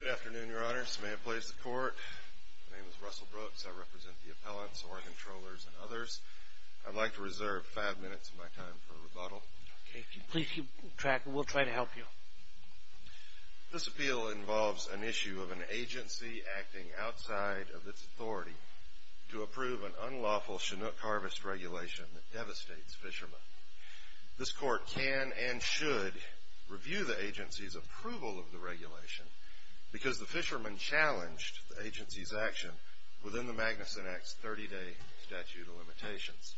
Good afternoon, Your Honors. May it please the Court, my name is Russell Brooks. I represent the appellants, Oregon Trollers, and others. I'd like to reserve five minutes of my time for rebuttal. Okay, please keep track and we'll try to help you. This appeal involves an issue of an agency acting outside of its authority to approve an unlawful Chinook harvest regulation that devastates fishermen. This Court can and should review the agency's approval of the regulation, because the fisherman challenged the agency's action within the Magnuson Act's 30-day statute of limitations.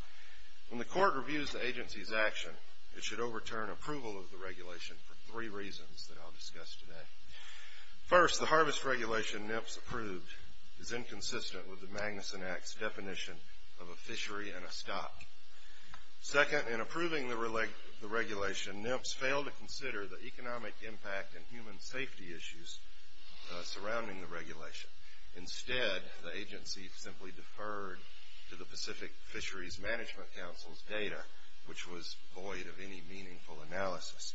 When the Court reviews the agency's action, it should overturn approval of the regulation for three reasons that I'll discuss today. First, the harvest regulation NIPS approved is inconsistent with the Magnuson Act's definition of a fishery and a stock. Second, in approving the regulation, NIPS failed to consider the economic impact and human safety issues surrounding the regulation. Instead, the agency simply deferred to the Pacific Fisheries Management Council's data, which was void of any meaningful analysis.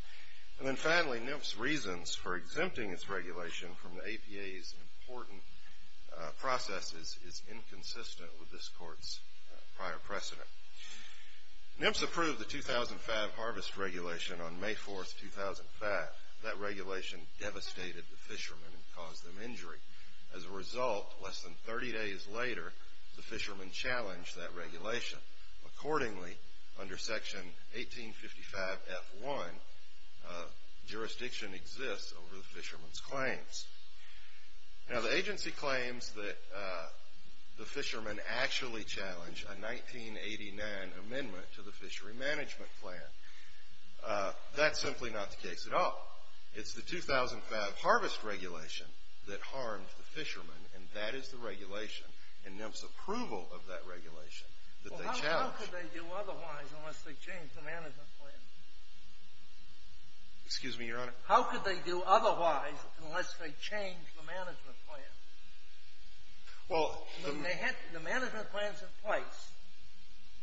And then finally, NIPS's reasons for exempting its regulation from the APA's important processes is inconsistent with this Court's prior precedent. NIPS approved the 2005 harvest regulation on May 4, 2005. That regulation devastated the fishermen and caused them injury. As a result, less than 30 days later, the fishermen challenged that regulation. Accordingly, under Section 1855F1, jurisdiction exists over the fishermen's claims. Now, the agency claims that the fishermen actually challenged a 1989 amendment to the fishery management plan. That's simply not the case at all. It's the 2005 harvest regulation that harmed the fishermen, and that is the regulation. And NIPS's approval of that regulation that they challenged. Well, how could they do otherwise unless they changed the management plan? Excuse me, Your Honor? How could they do otherwise unless they changed the management plan? Well, the management plan's in place.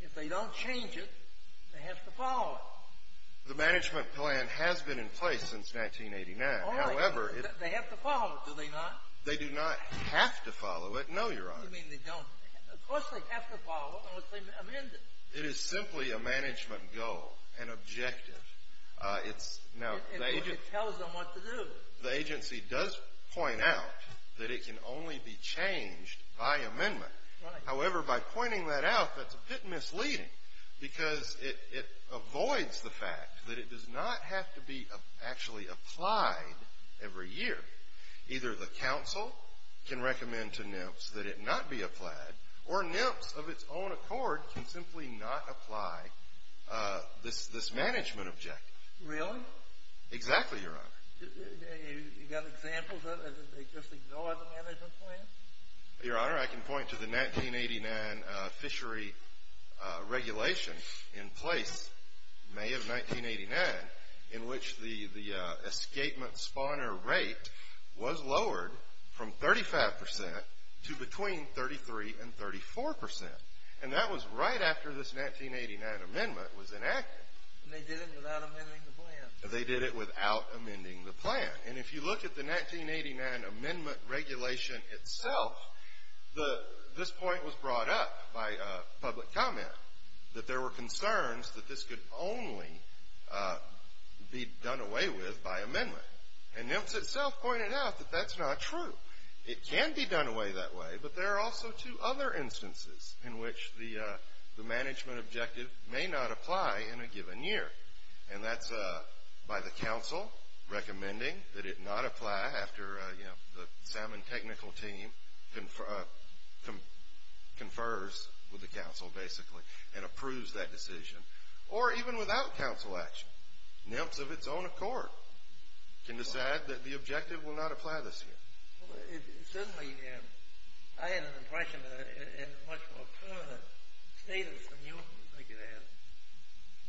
If they don't change it, they have to follow it. The management plan has been in place since 1989. All right. They have to follow it, do they not? They do not have to follow it, no, Your Honor. What do you mean they don't? Of course they have to follow it unless they amend it. It is simply a management goal, an objective. It tells them what to do. The agency does point out that it can only be changed by amendment. However, by pointing that out, that's a bit misleading because it avoids the fact that it does not have to be actually applied every year. Either the council can recommend to NIPS that it not be applied, or NIPS, of its own accord, can simply not apply this management objective. Really? Exactly, Your Honor. You got examples of it? They just ignore the management plan? Your Honor, I can point to the 1989 fishery regulation in place, May of 1989, in which the escapement spawner rate was lowered from 35% to between 33% and 34%. And that was right after this 1989 amendment was enacted. And they did it without amending the plan. They did it without amending the plan. And if you look at the 1989 amendment regulation itself, this point was brought up by public comment, that there were concerns that this could only be done away with by amendment. And NIPS itself pointed out that that's not true. It can be done away that way, but there are also two other instances in which the management objective may not apply in a given year. And that's by the council recommending that it not apply after the salmon technical team confers with the council, basically, and approves that decision, or even without council action. NIPS, of its own accord, can decide that the objective will not apply this year. It certainly can. I had an impression that it had a much more permanent status than you could have.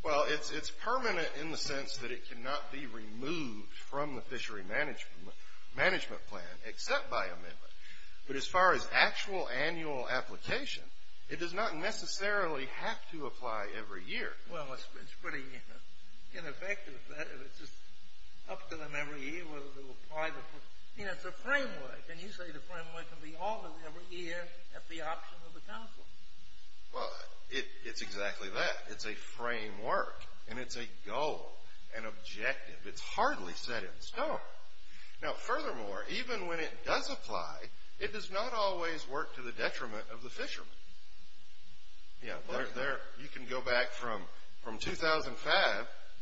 Well, it's permanent in the sense that it cannot be removed from the fishery management plan except by amendment. But as far as actual annual application, it does not necessarily have to apply every year. Well, it's pretty ineffective that if it's up to them every year whether to apply. I mean, it's a framework. And you say the framework can be altered every year at the option of the council. Well, it's exactly that. It's a framework, and it's a goal, an objective. It's hardly set in stone. Now, furthermore, even when it does apply, it does not always work to the detriment of the fishermen. You can go back from 2005,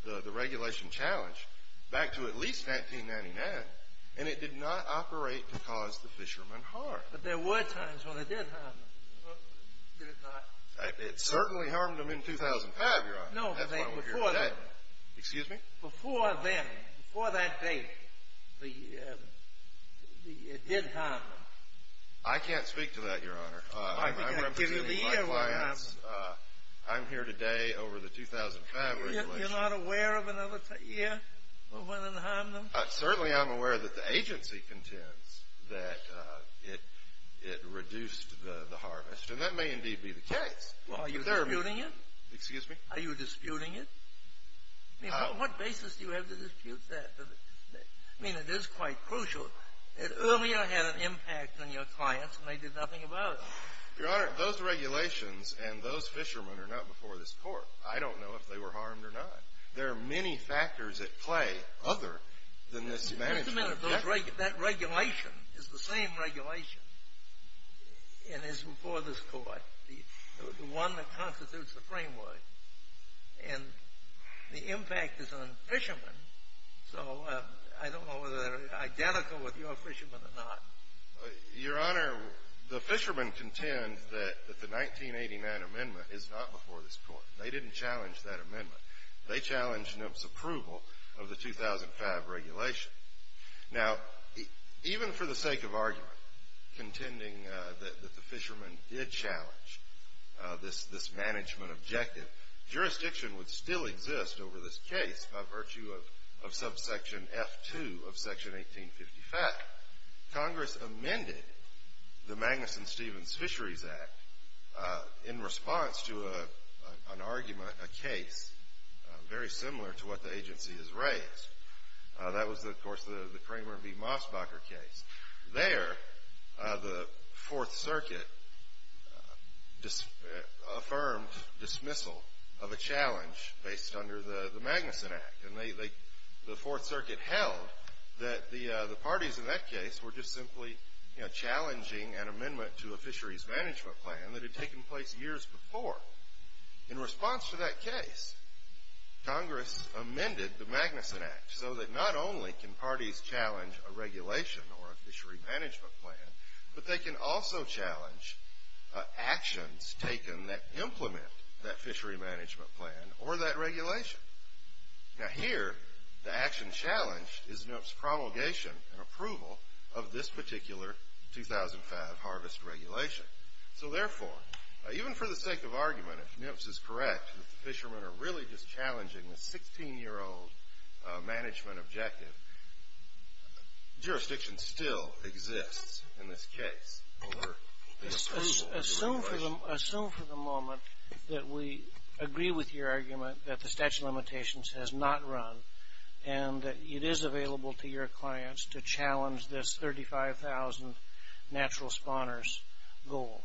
the regulation challenge, back to at least 1999, and it did not operate to cause the fishermen harm. But there were times when it did harm them, did it not? It certainly harmed them in 2005, Your Honor. No, before that. Excuse me? Before then, before that date, it did harm them. I can't speak to that, Your Honor. I'm representing my clients. I'm here today over the 2005 regulation. You're not aware of another year when it harmed them? Certainly I'm aware that the agency contends that it reduced the harvest, and that may indeed be the case. Well, are you disputing it? Excuse me? Are you disputing it? I mean, what basis do you have to dispute that? I mean, it is quite crucial. It earlier had an impact on your clients, and they did nothing about it. Your Honor, those regulations and those fishermen are not before this Court. I don't know if they were harmed or not. There are many factors at play other than this management. Just a minute. That regulation is the same regulation and is before this Court, the one that constitutes the framework. And the impact is on fishermen, so I don't know whether they're identical with your fishermen or not. Your Honor, the fishermen contend that the 1989 amendment is not before this Court. They didn't challenge that amendment. They challenged NMF's approval of the 2005 regulation. Now, even for the sake of argument, contending that the fishermen did challenge this management objective, jurisdiction would still exist over this case by virtue of subsection F2 of section 1855. In fact, Congress amended the Magnuson-Stevens Fisheries Act in response to an argument, a case, very similar to what the agency has raised. That was, of course, the Kramer v. Mosbacher case. There, the Fourth Circuit affirmed dismissal of a challenge based under the Magnuson Act. The Fourth Circuit held that the parties in that case were just simply challenging an amendment to a fisheries management plan that had taken place years before. In response to that case, Congress amended the Magnuson Act, so that not only can parties challenge a regulation or a fishery management plan, but they can also challenge actions taken that implement that fishery management plan or that regulation. Now, here, the action challenged is NMF's promulgation and approval of this particular 2005 harvest regulation. So, therefore, even for the sake of argument, if NMF is correct, that the fishermen are really just challenging the 16-year-old management objective, jurisdiction still exists in this case. Assume for the moment that we agree with your argument that the statute of limitations has not run and that it is available to your clients to challenge this 35,000 natural spawners goal.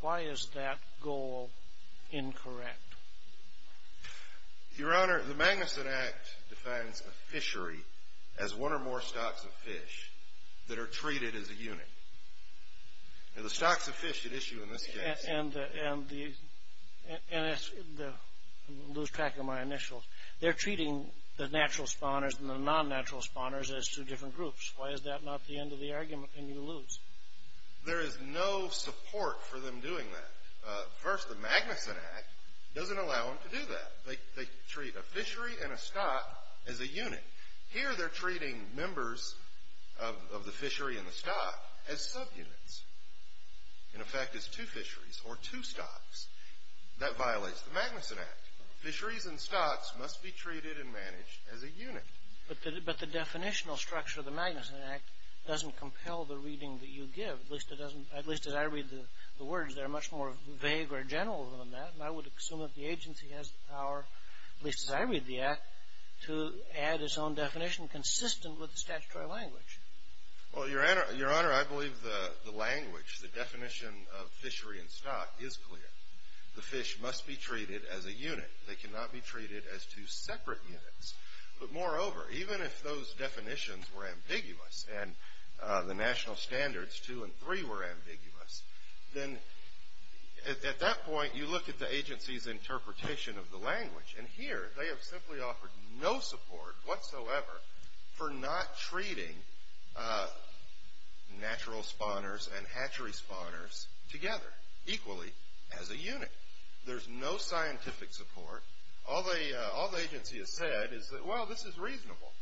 Why is that goal incorrect? Your Honor, the Magnuson Act defines a fishery as one or more stocks of fish that are treated as a unit. Now, the stocks of fish at issue in this case. And, I'm going to lose track of my initials. They're treating the natural spawners and the non-natural spawners as two different groups. Why is that not the end of the argument, and you lose? There is no support for them doing that. First, the Magnuson Act doesn't allow them to do that. They treat a fishery and a stock as a unit. Here they're treating members of the fishery and the stock as subunits, in effect as two fisheries or two stocks. That violates the Magnuson Act. Fisheries and stocks must be treated and managed as a unit. But the definitional structure of the Magnuson Act doesn't compel the reading that you give. At least as I read the words, they're much more vague or general than that. I would assume that the agency has the power, at least as I read the Act, to add its own definition consistent with the statutory language. Well, Your Honor, I believe the language, the definition of fishery and stock is clear. The fish must be treated as a unit. They cannot be treated as two separate units. But moreover, even if those definitions were ambiguous, and the national standards two and three were ambiguous, then at that point you look at the agency's interpretation of the language. And here they have simply offered no support whatsoever for not treating natural spawners and hatchery spawners together equally as a unit. There's no scientific support. All the agency has said is that, well, this is reasonable.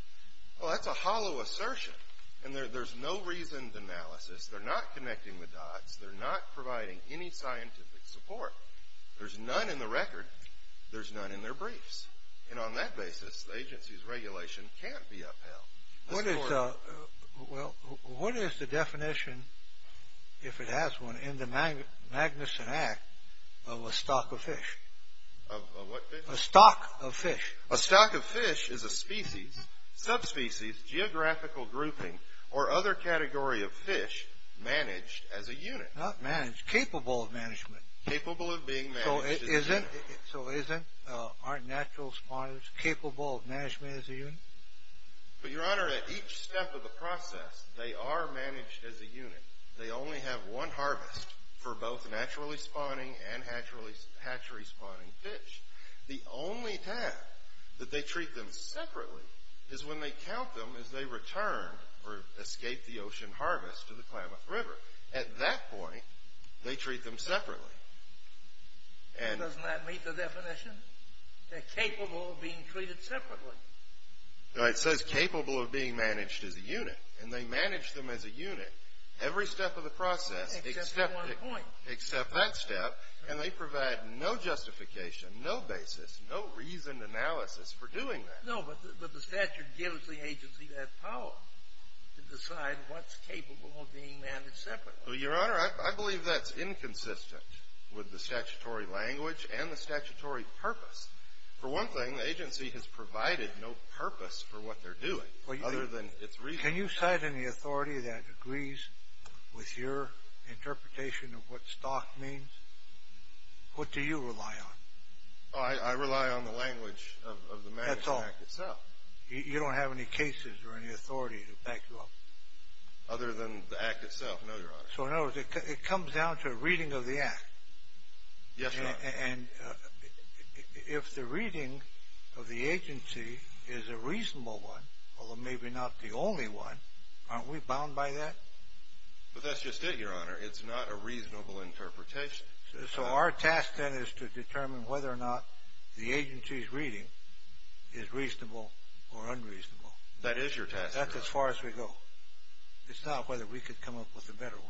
Well, that's a hollow assertion. And there's no reasoned analysis. They're not connecting the dots. They're not providing any scientific support. There's none in the record. There's none in their briefs. And on that basis, the agency's regulation can't be upheld. What is the definition, if it has one, in the Magnuson Act of a stock of fish? Of what fish? A stock of fish. A stock of fish is a species, subspecies, geographical grouping, or other category of fish managed as a unit. Not managed. Capable of management. Capable of being managed as a unit. So isn't our natural spawners capable of management as a unit? But, Your Honor, at each step of the process, they are managed as a unit. They only have one harvest for both naturally spawning and hatchery spawning fish. The only time that they treat them separately is when they count them as they return or escape the ocean harvest to the Klamath River. At that point, they treat them separately. Doesn't that meet the definition? They're capable of being treated separately. No, it says capable of being managed as a unit. And they manage them as a unit every step of the process except that step. And they provide no justification, no basis, no reasoned analysis for doing that. No, but the statute gives the agency that power to decide what's capable of being managed separately. Well, Your Honor, I believe that's inconsistent with the statutory language and the statutory purpose. For one thing, the agency has provided no purpose for what they're doing other than its reason. Can you cite any authority that agrees with your interpretation of what stock means? What do you rely on? I rely on the language of the management act itself. That's all. You don't have any cases or any authority to back you up? Other than the act itself, no, Your Honor. So, in other words, it comes down to a reading of the act. Yes, Your Honor. And if the reading of the agency is a reasonable one, although maybe not the only one, aren't we bound by that? But that's just it, Your Honor. It's not a reasonable interpretation. So our task then is to determine whether or not the agency's reading is reasonable or unreasonable. That is your task, Your Honor. That's as far as we go. It's not whether we could come up with a better one.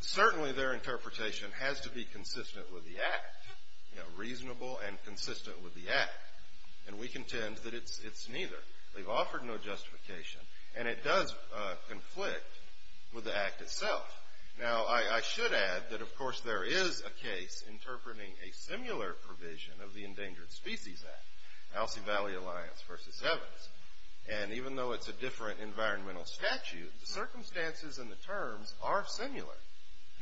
Certainly their interpretation has to be consistent with the act, you know, reasonable and consistent with the act. And we contend that it's neither. They've offered no justification. And it does conflict with the act itself. Now, I should add that, of course, there is a case interpreting a similar provision of the Endangered Species Act, Alcee Valley Alliance v. Evans. And even though it's a different environmental statute, the circumstances and the terms are similar.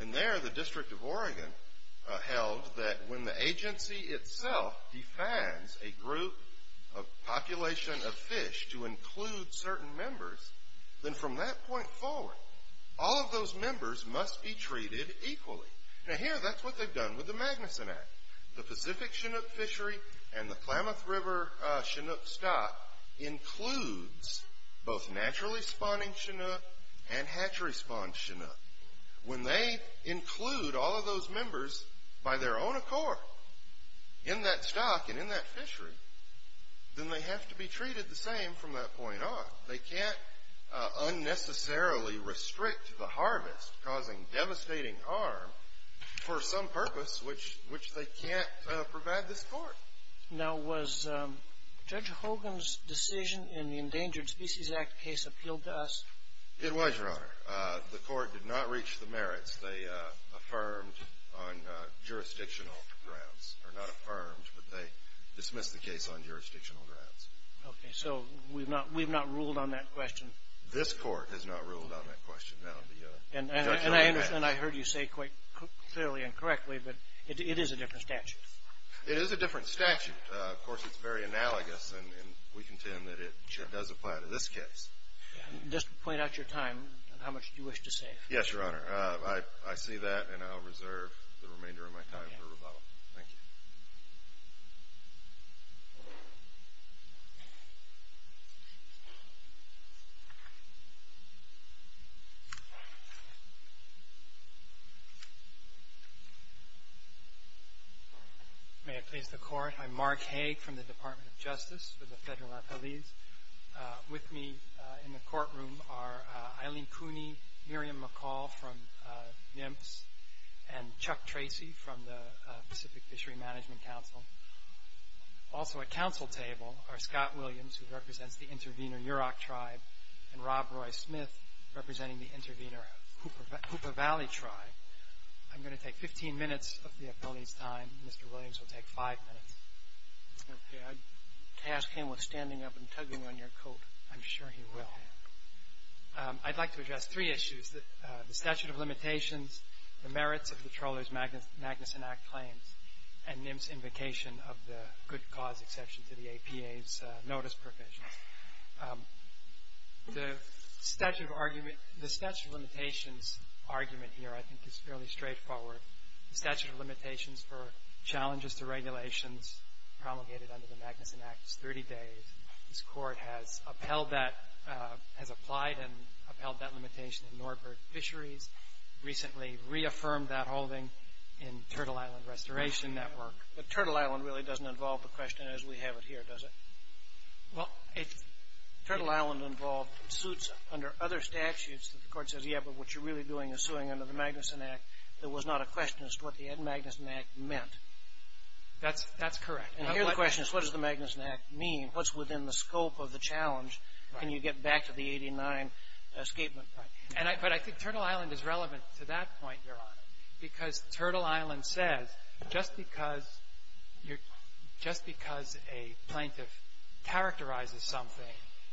And there the District of Oregon held that when the agency itself defines a group, a population of fish, to include certain members, then from that point forward, all of those members must be treated equally. Now here, that's what they've done with the Magnuson Act. The Pacific Chinook Fishery and the Klamath River Chinook Stock includes both naturally spawning Chinook and hatchery spawned Chinook. When they include all of those members by their own accord in that stock and in that fishery, then they have to be treated the same from that point on. They can't unnecessarily restrict the harvest causing devastating harm for some purpose which they can't provide this court. Now, was Judge Hogan's decision in the Endangered Species Act case appealed to us? It was, Your Honor. The court did not reach the merits. They affirmed on jurisdictional grounds. Or not affirmed, but they dismissed the case on jurisdictional grounds. Okay. So we've not ruled on that question? This court has not ruled on that question, no. And I heard you say quite clearly and correctly, but it is a different statute. It is a different statute. Of course, it's very analogous, and we contend that it does apply to this case. Just point out your time and how much you wish to say. Yes, Your Honor. I see that, and I'll reserve the remainder of my time for rebuttal. Thank you. Thank you. May I please the court? I'm Mark Haag from the Department of Justice for the Federal Attorneys. With me in the courtroom are Eileen Cooney, Miriam McCall from NIMPS, and Chuck Tracy from the Pacific Fishery Management Council. Also at counsel table are Scott Williams, who represents the Intervenor Yurok Tribe, and Rob Roy Smith, representing the Intervenor Hooper Valley Tribe. I'm going to take 15 minutes of the appellee's time. Mr. Williams will take five minutes. Okay. I'd task him with standing up and tugging on your coat. I'm sure he will. I'd like to address three issues, the statute of limitations, the merits of the Trawler's Magnuson Act claims, and NIMPS' invocation of the good cause exception to the APA's notice provisions. The statute of limitations argument here I think is fairly straightforward. The statute of limitations for challenges to regulations promulgated under the Magnuson Act is 30 days. This Court has upheld that, has applied and upheld that limitation in Norbert Fisheries, recently reaffirmed that holding in Turtle Island Restoration Network. But Turtle Island really doesn't involve the question as we have it here, does it? Well, it's... Turtle Island involved suits under other statutes that the Court says, yeah, but what you're really doing is suing under the Magnuson Act. There was not a question as to what the Ed Magnuson Act meant. That's correct. And here the question is, what does the Magnuson Act mean? What's within the scope of the challenge? Can you get back to the 89 escapement plan? But I think Turtle Island is relevant to that point, Your Honor, because Turtle Island says just because a plaintiff characterizes something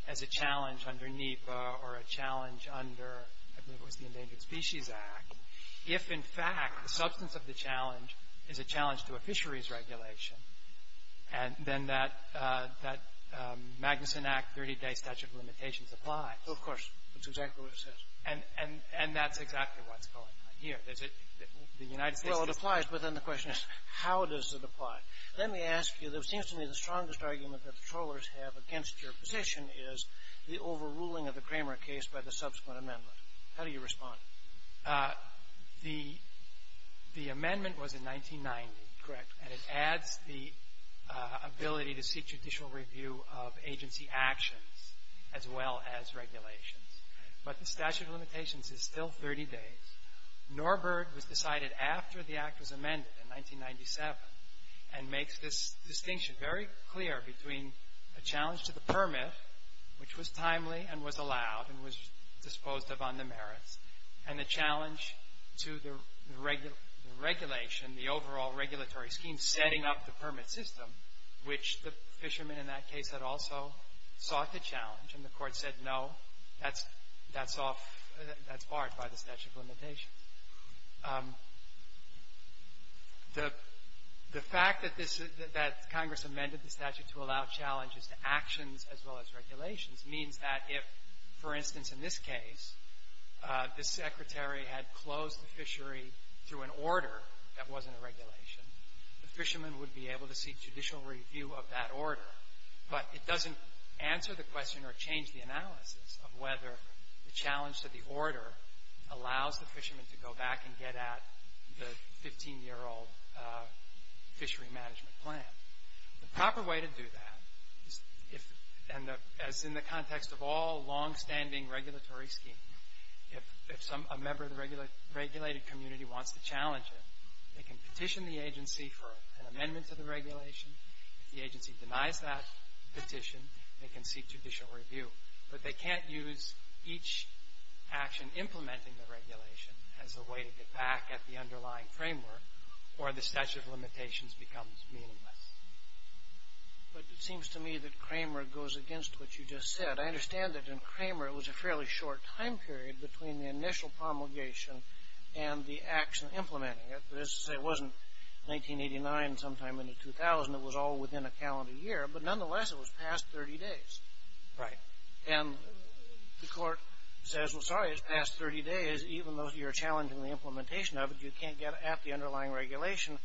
as a challenge under NEPA or a challenge under, I believe it was the Endangered Species Act, if in fact the substance of the challenge is a challenge to a fisheries regulation, then that Magnuson Act 30-day statute of limitations applies. Of course. That's exactly what it says. And that's exactly what's going on here. The United States... Well, it applies, but then the question is, how does it apply? Let me ask you. It seems to me the strongest argument that patrollers have against your position is the overruling of the Cramer case by the subsequent amendment. How do you respond? The amendment was in 1990, correct? And it adds the ability to seek judicial review of agency actions as well as regulations. But the statute of limitations is still 30 days. Norberg was decided after the act was amended in 1997 and makes this distinction very clear between a challenge to the permit, which was timely and was allowed and was disposed of on the merits, and a challenge to the regulation, the overall regulatory scheme setting up the permit system, which the fishermen in that case had also sought to challenge, and the court said no, that's off, that's barred by the statute of limitations. The fact that Congress amended the statute to allow challenges to actions as well as regulations means that if, for instance, in this case, the secretary had closed the fishery through an order that wasn't a regulation, the fishermen would be able to seek judicial review of that order. But it doesn't answer the question or change the analysis of whether the challenge to the order allows the fishermen to go back and get at the 15-year-old fishery management plan. The proper way to do that, as in the context of all longstanding regulatory schemes, if a member of the regulated community wants to challenge it, they can petition the agency for an amendment to the regulation. If the agency denies that petition, they can seek judicial review. But they can't use each action implementing the regulation as a way to get back at the underlying framework or the statute of limitations becomes meaningless. But it seems to me that Cramer goes against what you just said. I understand that in Cramer it was a fairly short time period between the initial promulgation and the action implementing it. But this wasn't 1989, sometime in the 2000s. It was all within a calendar year. But nonetheless, it was past 30 days. Right. And the court says, well, sorry, it's past 30 days, even though you're challenging the implementation of it, you can't get at the underlying regulation.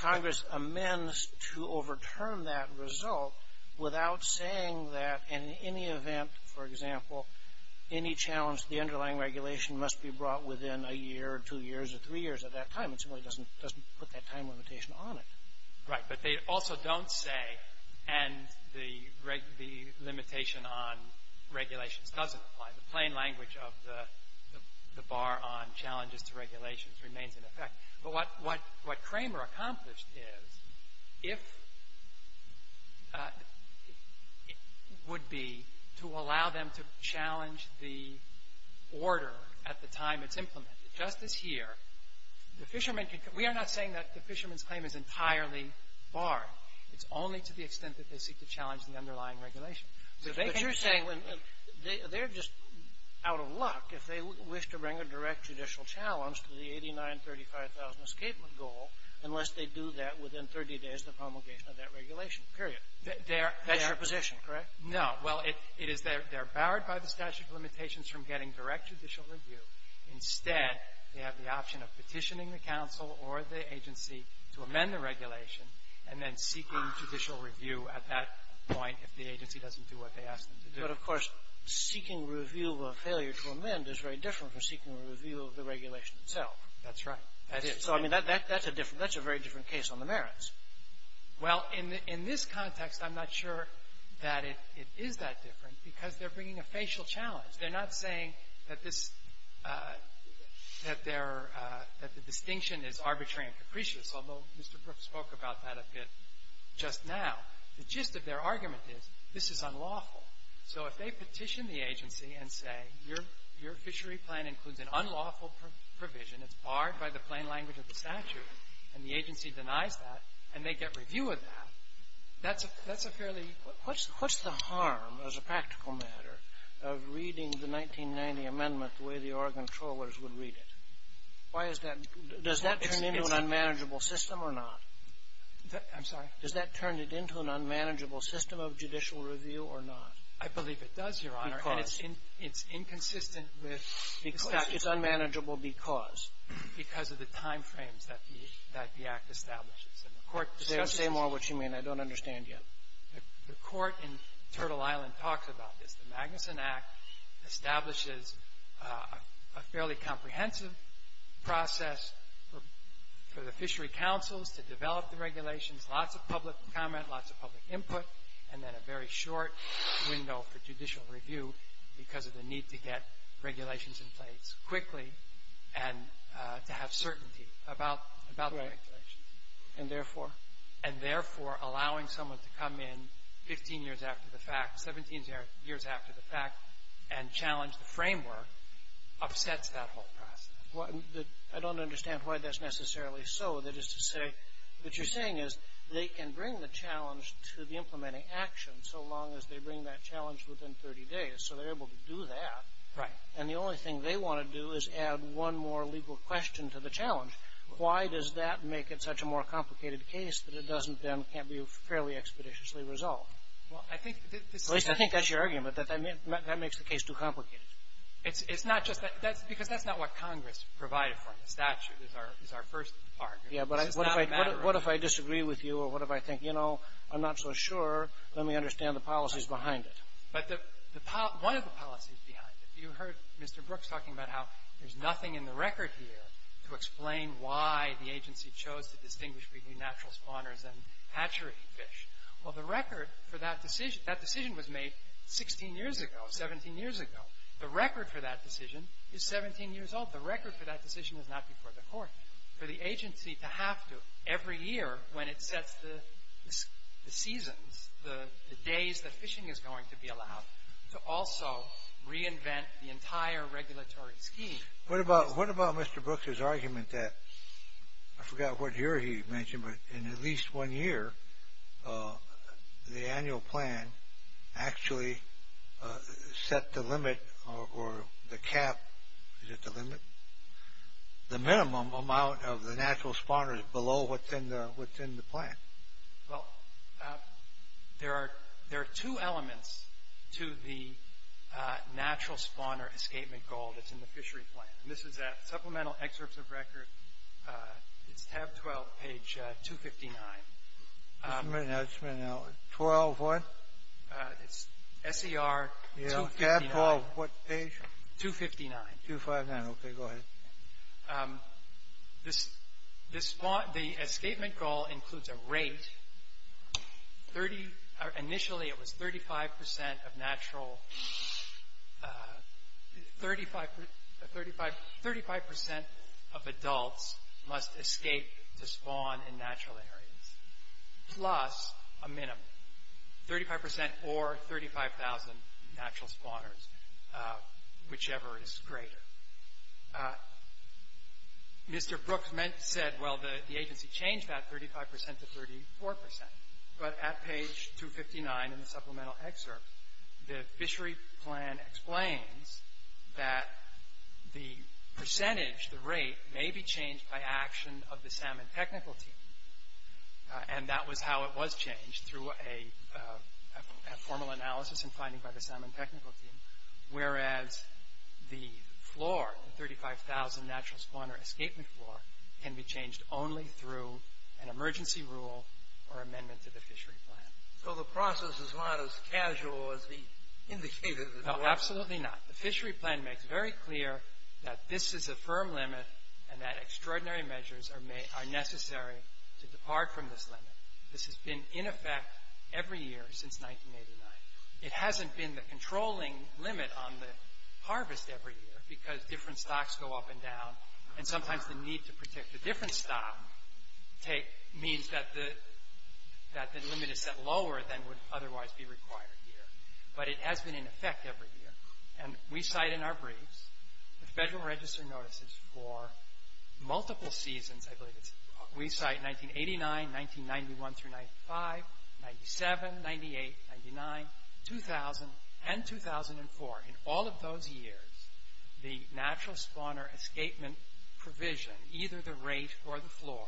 Congress amends to overturn that result without saying that in any event, for example, any challenge to the underlying regulation must be brought within a year or two years or three years at that time. It simply doesn't put that time limitation on it. Right. But they also don't say, and the limitation on regulations doesn't apply. The plain language of the bar on challenges to regulations remains in effect. But what Cramer accomplished is, if it would be to allow them to challenge the order at the time it's implemented, just as here, the fishermen can — we are not saying that the fishermen's claim is entirely barred. It's only to the extent that they seek to challenge the underlying regulation. So they can — But you're saying they're just out of luck if they wish to bring a direct judicial challenge to the 89-35,000 escapement goal unless they do that within 30 days of the promulgation of that regulation, period. That's your position, correct? No. Well, it is — they're barred by the statute of limitations from getting direct judicial review. Instead, they have the option of petitioning the counsel or the agency to amend the regulation and then seeking judicial review at that point if the agency doesn't do what they asked them to do. But, of course, seeking review of failure to amend is very different from seeking review of the regulation itself. That's right. That is. So, I mean, that's a different — that's a very different case on the merits. Well, in this context, I'm not sure that it is that different because they're bringing a facial challenge. They're not saying that this — that their — that the distinction is arbitrary and capricious, although Mr. Brooks spoke about that a bit just now. The gist of their argument is this is unlawful. So if they petition the agency and say your fishery plan includes an unlawful provision, it's barred by the plain language of the statute, and the agency denies that, and they get review of that, that's a fairly — What's the harm, as a practical matter, of reading the 1990 amendment the way the Oregon Trollers would read it? Why is that — does that turn into an unmanageable system or not? I'm sorry? Does that turn it into an unmanageable system of judicial review or not? I believe it does, Your Honor. Because? And it's inconsistent with the statute. It's unmanageable because? Because of the time frames that the — that the Act establishes. Say more what you mean. I don't understand yet. The court in Turtle Island talks about this. The Magnuson Act establishes a fairly comprehensive process for the fishery councils to develop the regulations, lots of public comment, lots of public input, and then a very short window for judicial review because of the need to get regulations in place quickly and to have certainty about the regulations. And therefore? And therefore, allowing someone to come in 15 years after the fact, 17 years after the fact, and challenge the framework upsets that whole process. I don't understand why that's necessarily so. That is to say, what you're saying is they can bring the challenge to the implementing action so long as they bring that challenge within 30 days. So they're able to do that. Right. Why does that make it such a more complicated case that it doesn't then can't be fairly expeditiously resolved? Well, I think this is — At least I think that's your argument, that that makes the case too complicated. It's not just that. That's because that's not what Congress provided for in the statute is our first argument. Yeah, but what if I disagree with you or what if I think, you know, I'm not so sure. Let me understand the policies behind it. But the — one of the policies behind it. You heard Mr. Brooks talking about how there's nothing in the record here to explain why the agency chose to distinguish between natural spawners and hatchery fish. Well, the record for that decision — that decision was made 16 years ago, 17 years ago. The record for that decision is 17 years old. The record for that decision is not before the court. For the agency to have to, every year when it sets the seasons, the days that fishing is going to be allowed, to also reinvent the entire regulatory scheme. What about Mr. Brooks' argument that — I forgot what year he mentioned, but in at least one year the annual plan actually set the limit or the cap — is it the limit? The minimum amount of the natural spawners below what's in the plan. Well, there are two elements to the natural spawner escapement goal that's in the fishery plan. And this is at supplemental excerpts of record. It's tab 12, page 259. 12 what? It's SER 259. Yeah, tab 12, what page? 259. 259, okay, go ahead. The escapement goal includes a rate. Initially it was 35% of natural — 35% of adults must escape to spawn in natural areas, plus a minimum. 35% or 35,000 natural spawners, whichever is greater. Mr. Brooks said, well, the agency changed that 35% to 34%. But at page 259 in the supplemental excerpt, the fishery plan explains that the percentage, the rate, may be changed by action of the salmon technical team. And that was how it was changed, through a formal analysis and finding by the salmon technical team. Whereas the floor, the 35,000 natural spawner escapement floor, can be changed only through an emergency rule or amendment to the fishery plan. So the process is not as casual as he indicated it was. No, absolutely not. The fishery plan makes very clear that this is a firm limit and that extraordinary measures are necessary to depart from this limit. This has been in effect every year since 1989. It hasn't been the controlling limit on the harvest every year, because different stocks go up and down, and sometimes the need to protect a different stock means that the limit is set lower than would otherwise be required here. But it has been in effect every year. And we cite in our briefs, the Federal Register notices for multiple seasons, I believe it's, we cite 1989, 1991 through 95, 97, 98, 99, 2000, and 2004. In all of those years, the natural spawner escapement provision, either the rate or the floor,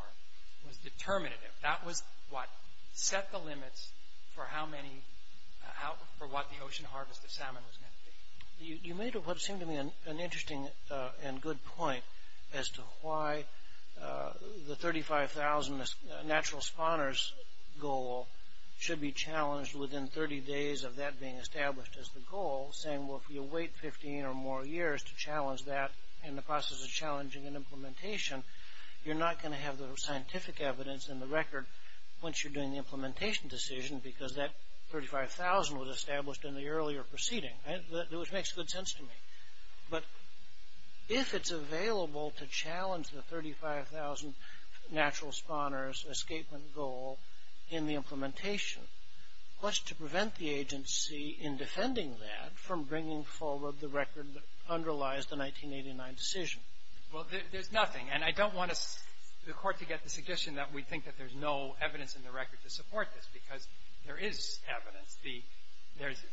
was determinative. That was what set the limits for how many, for what the ocean harvest of salmon was meant to be. You made what seemed to me an interesting and good point as to why the 35,000 natural spawners goal should be challenged within 30 days of that being established as the goal, saying, well, if you wait 15 or more years to challenge that in the process of challenging an implementation, you're not going to have the scientific evidence in the record once you're doing the implementation decision, because that 35,000 was established in the earlier proceeding. Which makes good sense to me. But if it's available to challenge the 35,000 natural spawners escapement goal in the implementation, what's to prevent the agency in defending that from bringing forward the record that underlies the 1989 decision? Well, there's nothing. And I don't want the Court to get the suggestion that we think that there's no evidence in the record to support this, because there is evidence.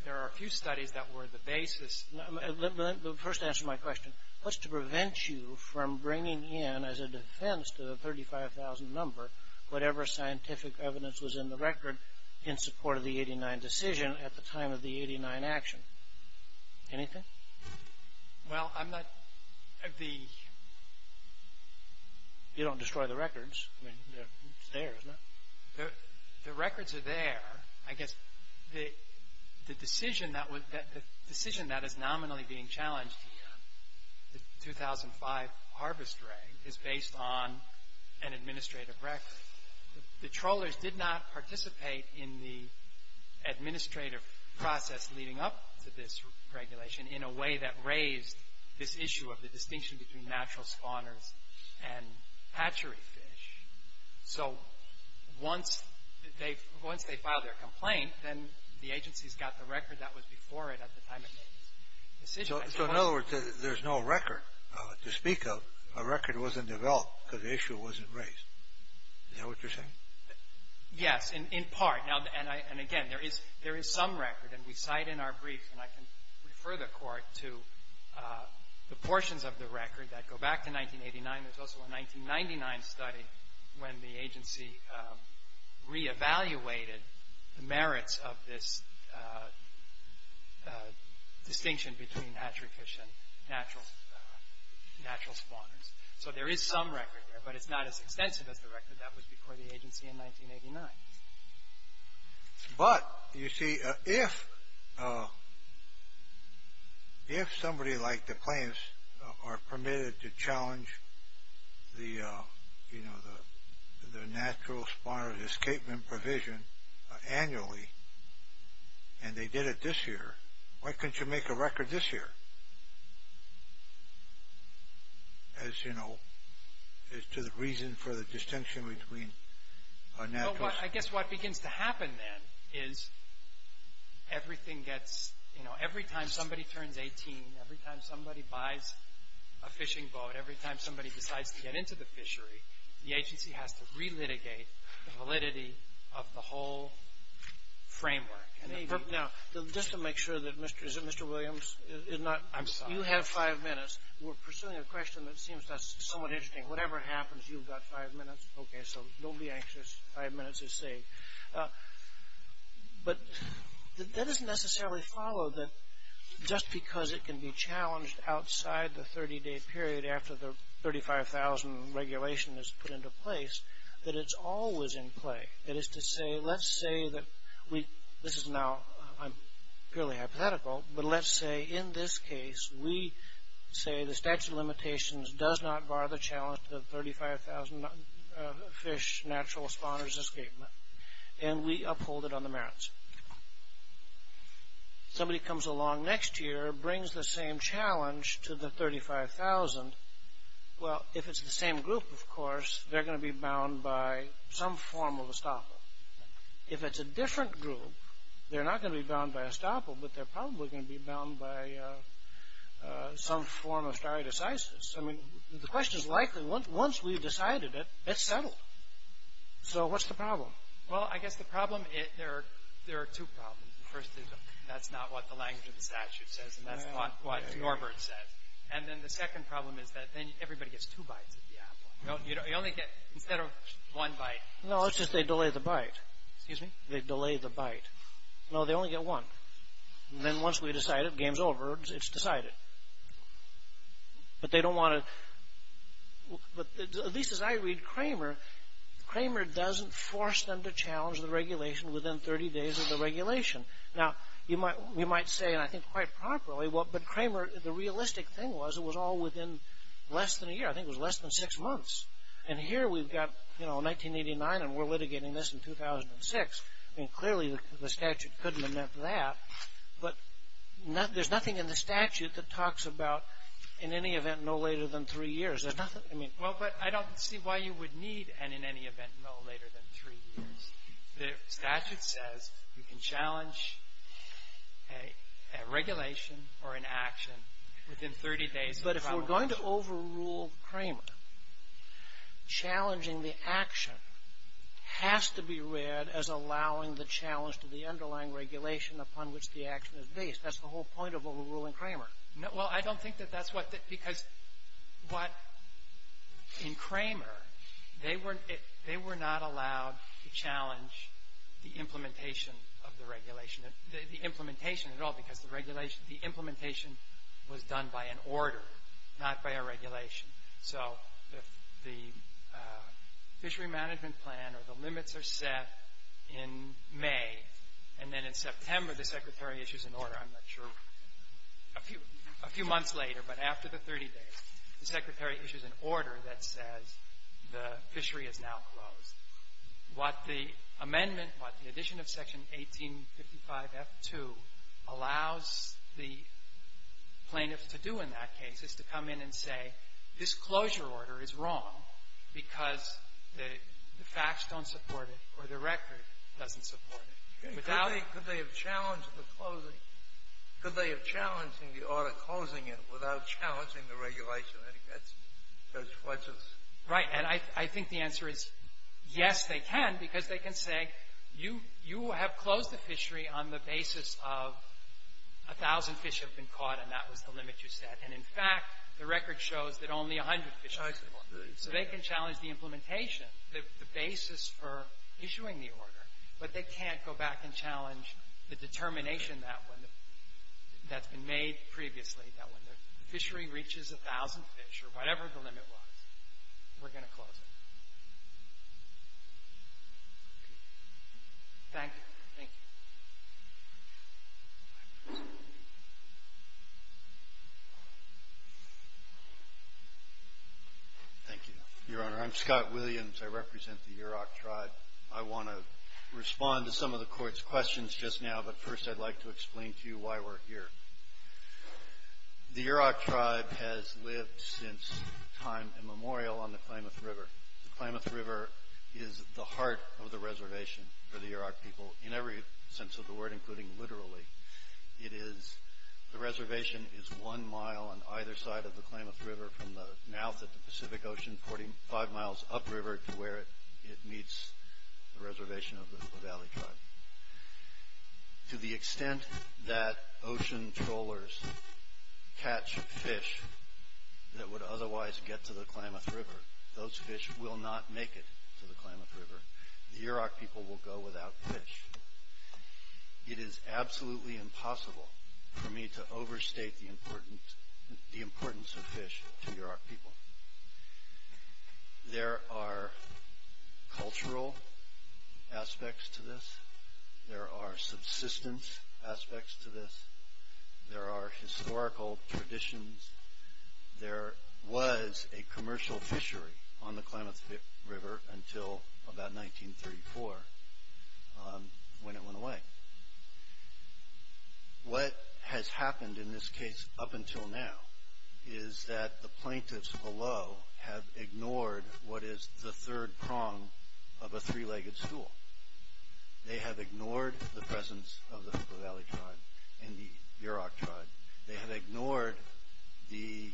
There are a few studies that were the basis. But first answer my question. What's to prevent you from bringing in as a defense to the 35,000 number whatever scientific evidence was in the record in support of the 89 decision at the time of the 89 action? Anything? Well, I'm not the... You don't destroy the records. It's there, isn't it? The records are there. I guess the decision that is nominally being challenged here, the 2005 Harvest Reg, is based on an administrative record. The trawlers did not participate in the administrative process leading up to this regulation in a way that raised this issue of the distinction between natural spawners and hatchery fish. So once they filed their complaint, then the agency's got the record that was before it at the time it made this decision. So in other words, there's no record to speak of. A record wasn't developed because the issue wasn't raised. Is that what you're saying? Yes, in part. And again, there is some record, and we cite in our brief, and I can refer the Court to the portions of the record that go back to 1989. There's also a 1999 study when the agency re-evaluated the merits of this distinction between hatchery fish and natural spawners. So there is some record there, but it's not as extensive as the record that was before the agency in 1989. But, you see, if somebody like the plaintiffs are permitted to challenge the natural spawner's escapement provision annually, and they did it this year, why couldn't you make a record this year? As to the reason for the distinction between natural spawners and hatchery fish. I guess what begins to happen then is every time somebody turns 18, every time somebody buys a fishing boat, every time somebody decides to get into the fishery, the agency has to re-litigate the validity of the whole framework. Now, just to make sure that Mr. Williams is not... I'm sorry. You have five minutes. We're pursuing a question that seems somewhat interesting. Whatever happens, you've got five minutes. Okay, so don't be anxious. Five minutes is safe. But that doesn't necessarily follow that just because it can be challenged outside the 30-day period after the 35,000 regulation is put into place, that it's always in play. That is to say, let's say that we... This is now purely hypothetical, but let's say in this case, we say the statute of limitations does not bar the challenge to the 35,000 fish natural spawners escapement, and we uphold it on the merits. Somebody comes along next year, brings the same challenge to the 35,000. Well, if it's the same group, of course, they're going to be bound by some form of estoppel. If it's a different group, they're not going to be bound by estoppel, but they're probably going to be bound by some form of stare decisis. I mean, the question is likely, once we've decided it, it's settled. So what's the problem? Well, I guess the problem, there are two problems. The first is that that's not what the language of the statute says, and that's not what Norbert says. And then the second problem is that then everybody gets two bites of the apple. You only get, instead of one bite... No, it's just they delay the bite. Excuse me? They delay the bite. No, they only get one. And then once we decide it, game's over, it's decided. But they don't want to... At least as I read Cramer, Cramer doesn't force them to challenge the regulation within 30 days of the regulation. Now, you might say, and I think quite properly, but Cramer, the realistic thing was it was all within less than a year. I think it was less than six months. And here we've got 1989, and we're litigating this in 2006. I mean, clearly the statute couldn't have meant that. But there's nothing in the statute that talks about in any event no later than three years. There's nothing, I mean... Well, but I don't see why you would need an in any event no later than three years. The statute says you can challenge a regulation or an action within 30 days of the regulation. If we're going to overrule Cramer, challenging the action has to be read as allowing the challenge to the underlying regulation upon which the action is based. That's the whole point of overruling Cramer. Well, I don't think that that's what... Because what... In Cramer, they were not allowed to challenge the implementation of the regulation, the implementation at all, because the regulation, the implementation was done by an order, not by a regulation. So if the fishery management plan or the limits are set in May, and then in September the secretary issues an order, I'm not sure, a few months later, but after the 30 days, the secretary issues an order that says the fishery is now closed. What the amendment, what the addition of Section 1855F2 allows the plaintiffs to do in that case is to come in and say, this closure order is wrong because the facts don't support it or the record doesn't support it. Without... Could they have challenged the closing? Could they have challenged the order closing it without challenging the regulation? I think that's what's... Right. And I think the answer is, yes, they can, because they can say, you have closed the fishery on the basis of a thousand fish have been caught and that was the limit you set. And, in fact, the record shows that only a hundred fish have been caught. So they can challenge the implementation, the basis for issuing the order, but they can't go back and challenge the determination that's been made previously, that when the fishery reaches a thousand fish or whatever the limit was, we're going to close it. Thank you. Thank you. Thank you, Your Honor. I'm Scott Williams. I represent the Yurok Tribe. I want to respond to some of the Court's questions just now, but first I'd like to explain to you why we're here. The Yurok Tribe has lived since time immemorial on the Klamath River. The Klamath River is the heart of the reservation for the Yurok people, in every sense of the word, including literally. It is... The reservation is one mile on either side of the Klamath River, from the mouth of the Pacific Ocean, 45 miles upriver to where it meets the reservation of the Levali Tribe. To the extent that ocean trawlers catch fish that would otherwise get to the Klamath River, those fish will not make it to the Klamath River. The Yurok people will go without fish. It is absolutely impossible for me to overstate the importance of fish to Yurok people. There are cultural aspects to this. There are subsistence aspects to this. There are historical traditions. There was a commercial fishery on the Klamath River until about 1934, when it went away. What has happened in this case up until now, is that the plaintiffs below have ignored what is the third prong of a three-legged stool. They have ignored the presence of the Levali Tribe and the Yurok Tribe. They have ignored the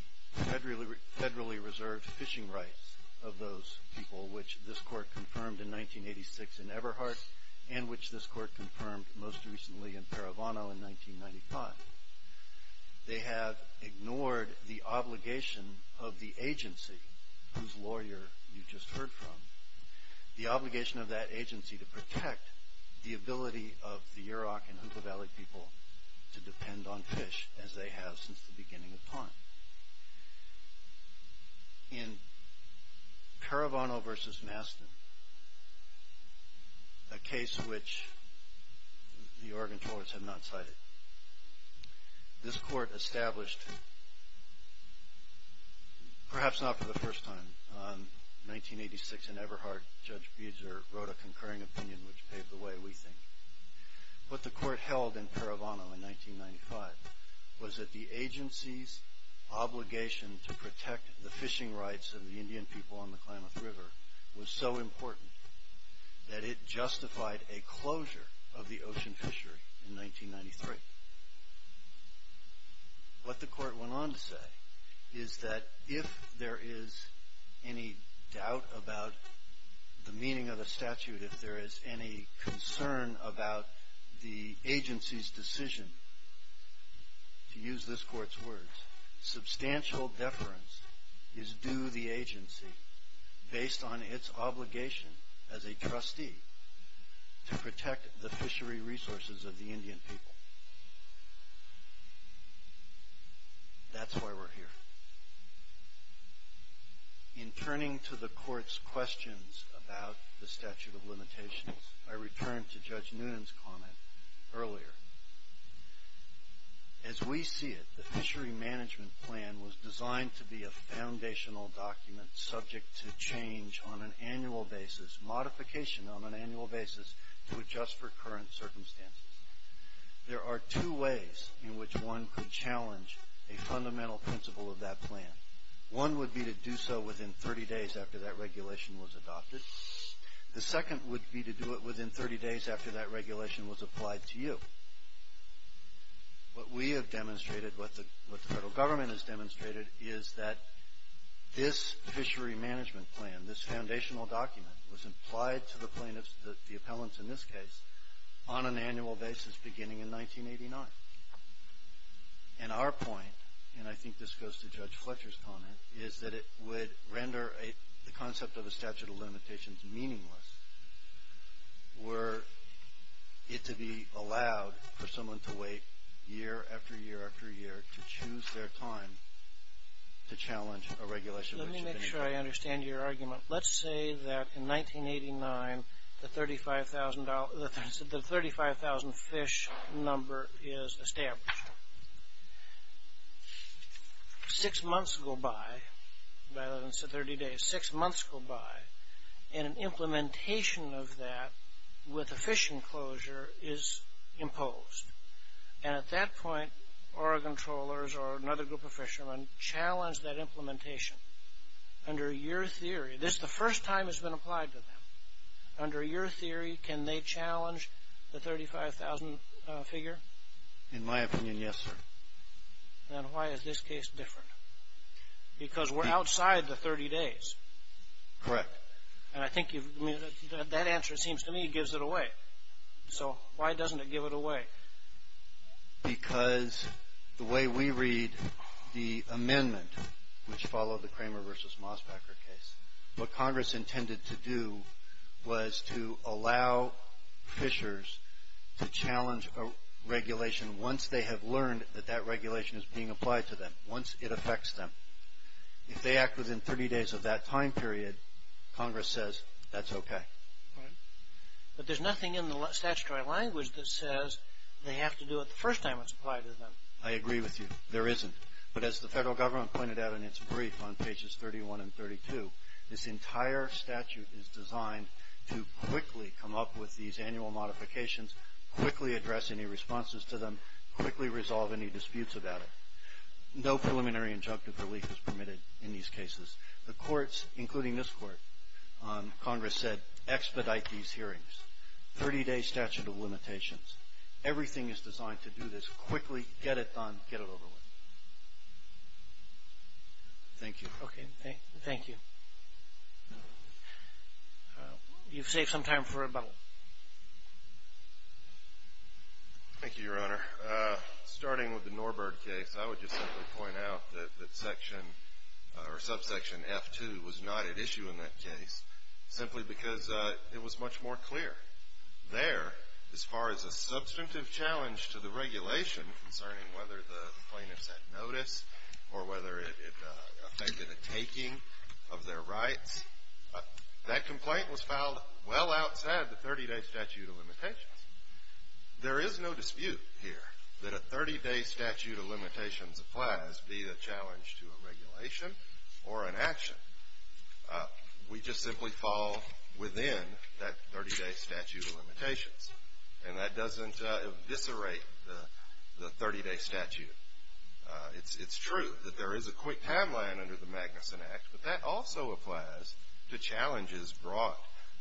federally reserved fishing rights of those people, which this court confirmed in 1986 in Eberhardt, and which this court confirmed most recently in Paravano in 1995. They have ignored the obligation of the agency, whose lawyer you just heard from, the obligation of that agency to protect the ability of the Yurok and Hoopoe Valley people to depend on fish, as they have since the beginning of time. In Paravano v. Mastin, a case which the Oregon courts have not cited, this court established, perhaps not for the first time, in 1986 in Eberhardt, Judge Buser wrote a concurring opinion which paved the way, we think. What the court held in Paravano in 1995 was that the agency's obligation to protect the fishing rights of the Indian people on the Klamath River was so important that it justified a closure of the ocean fishery in 1993. What the court went on to say is that if there is any doubt about the meaning of the statute, if there is any concern about the agency's decision, to use this court's words, substantial deference is due the agency based on its obligation as a trustee to protect the fishery resources of the Indian people. That's why we're here. In turning to the court's questions about the statute of limitations, I returned to Judge Noonan's comment earlier. As we see it, the fishery management plan was designed to be a foundational document subject to change on an annual basis, modification on an annual basis, to adjust for current circumstances. There are two ways in which one could challenge a fundamental principle of that plan. One would be to do so within 30 days after that regulation was adopted. The second would be to do it within 30 days after that regulation was applied to you. What we have demonstrated, what the federal government has demonstrated, is that this fishery management plan, this foundational document, was applied to the plaintiffs, the appellants in this case, on an annual basis beginning in 1989. And our point, and I think this goes to Judge Fletcher's comment, is that it would render the concept of a statute of limitations meaningless were it to be allowed for someone to wait year after year after year to choose their time to challenge a regulation. Let me make sure I understand your argument. Let's say that in 1989 the 35,000 fish number is established. Six months go by, rather than 30 days, six months go by, and an implementation of that with a fish enclosure is imposed. And at that point our controllers or another group of fishermen challenge that implementation under your theory. This is the first time it's been applied to them. Under your theory, can they challenge the 35,000 figure? In my opinion, yes, sir. Then why is this case different? Because we're outside the 30 days. Correct. And I think that answer, it seems to me, gives it away. So why doesn't it give it away? Because the way we read the amendment, which followed the Kramer v. Mosbacher case, what Congress intended to do was to allow fishers to challenge a regulation once they have learned that that regulation is being applied to them, once it affects them. If they act within 30 days of that time period, Congress says that's okay. But there's nothing in the statutory language that says they have to do it the first time it's applied to them. I agree with you. There isn't. But as the federal government pointed out in its brief on pages 31 and 32, this entire statute is designed to quickly come up with these annual modifications, quickly address any responses to them, quickly resolve any disputes about it. No preliminary injunctive relief is permitted in these cases. The courts, including this court, Congress said expedite these hearings. 30-day statute of limitations. Everything is designed to do this quickly. Get it done. Get it over with. Thank you. Okay. Thank you. You've saved some time for rebuttal. Thank you, Your Honor. Starting with the Norbird case, I would just simply point out that section or subsection F2 was not at issue in that case simply because it was much more clear. There, as far as a substantive challenge to the regulation concerning whether the plaintiffs had notice or whether it affected a taking of their rights, that complaint was filed well outside the 30-day statute of limitations. There is no dispute here that a 30-day statute of limitations applies, be it a challenge to a regulation or an action. We just simply fall within that 30-day statute of limitations, and that doesn't eviscerate the 30-day statute. It's true that there is a quick timeline under the Magnuson Act, but that also applies to challenges brought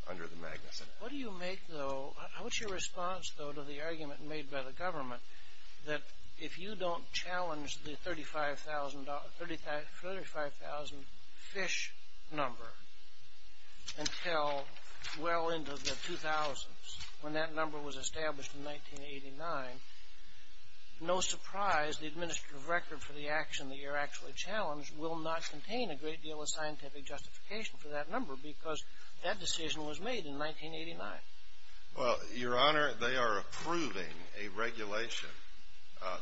under the Magnuson Act. What do you make, though? How is your response, though, to the argument made by the government that if you don't challenge the $35,000 fish number until well into the 2000s, when that number was established in 1989, no surprise the administrative record for the action that you're actually challenged will not contain a great deal of scientific justification for that number because that decision was made in 1989? Well, Your Honor, they are approving a regulation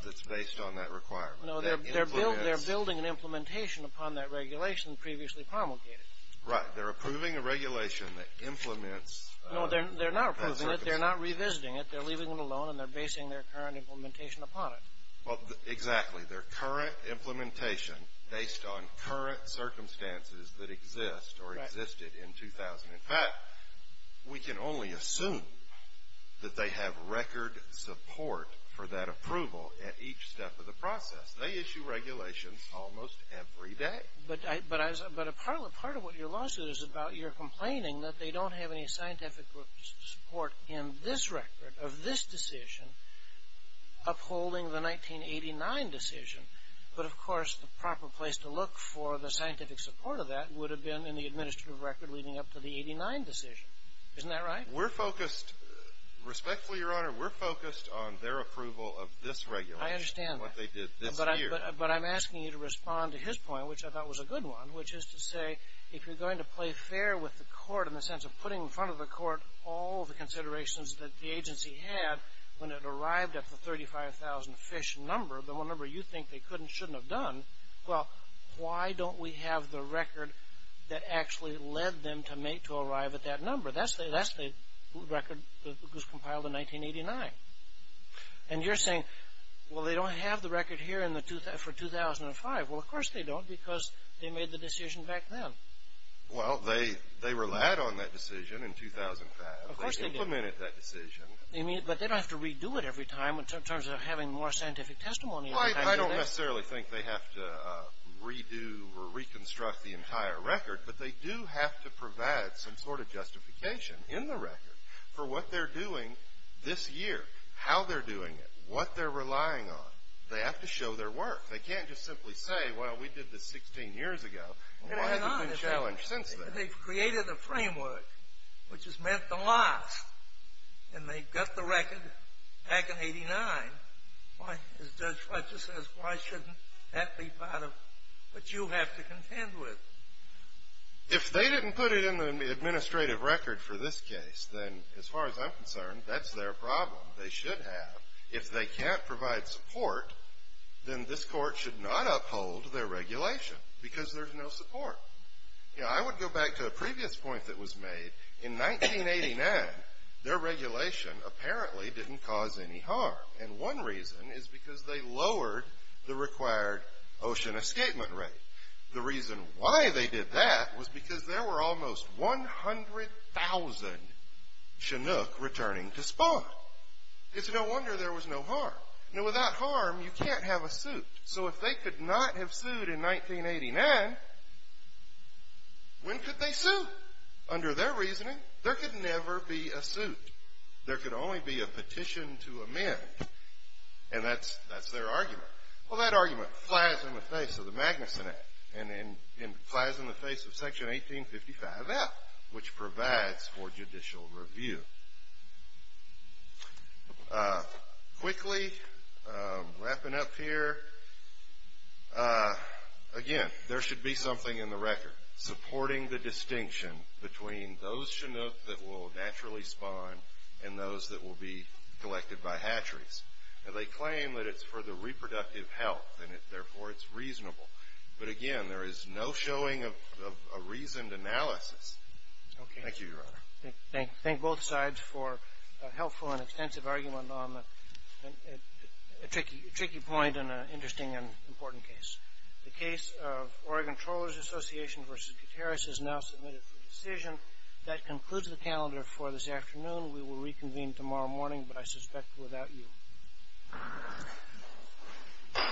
that's based on that requirement. No, they're building an implementation upon that regulation previously promulgated. Right. They're approving a regulation that implements that circumstance. No, they're not approving it. They're not revisiting it. They're leaving it alone, and they're basing their current implementation upon it. Well, exactly. Their current implementation based on current circumstances that exist or existed in 2000. In fact, we can only assume that they have record support for that approval at each step of the process. They issue regulations almost every day. But part of what your lawsuit is about, you're complaining that they don't have any scientific support in this record of this decision upholding the 1989 decision. But, of course, the proper place to look for the scientific support of that would have been in the administrative record leading up to the 89 decision. Isn't that right? We're focused, respectfully, Your Honor, we're focused on their approval of this regulation. I understand. What they did this year. But I'm asking you to respond to his point, which I thought was a good one, which is to say if you're going to play fair with the court in the sense of putting in front of the court all the considerations that the agency had when it arrived at the 35,000 fish number, the number you think they could and shouldn't have done, well, why don't we have the record that actually led them to arrive at that number? That's the record that was compiled in 1989. And you're saying, well, they don't have the record here for 2005. Well, of course they don't because they made the decision back then. Well, they relied on that decision in 2005. Of course they did. They implemented that decision. But they don't have to redo it every time in terms of having more scientific testimony. I don't necessarily think they have to redo or reconstruct the entire record, but they do have to provide some sort of justification in the record for what they're doing this year, how they're doing it, what they're relying on. They have to show their work. They can't just simply say, well, we did this 16 years ago. Why has it been challenged since then? They've created a framework, which has meant the loss. And they've got the record back in 1989. As Judge Fletcher says, why shouldn't that be part of what you have to contend with? If they didn't put it in the administrative record for this case, then as far as I'm concerned, that's their problem. They should have. If they can't provide support, then this court should not uphold their regulation because there's no support. You know, I would go back to a previous point that was made. In 1989, their regulation apparently didn't cause any harm. And one reason is because they lowered the required ocean escapement rate. The reason why they did that was because there were almost 100,000 Chinook returning to spawn. It's no wonder there was no harm. Now, without harm, you can't have a suit. So if they could not have sued in 1989, when could they sue? Under their reasoning, there could never be a suit. There could only be a petition to amend. And that's their argument. Well, that argument flies in the face of the Magnuson Act and flies in the face of Section 1855F, which provides for judicial review. Quickly, wrapping up here, again, there should be something in the record supporting the distinction between those Chinook that will naturally spawn and those that will be collected by hatcheries. Now, they claim that it's for the reproductive health and, therefore, it's reasonable. But, again, there is no showing of a reasoned analysis. Thank you, Your Honor. Thank both sides for a helpful and extensive argument on a tricky point and an interesting and important case. The case of Oregon Trawlers Association v. Gutierrez is now submitted for decision. That concludes the calendar for this afternoon. We will reconvene tomorrow morning, but I suspect without you.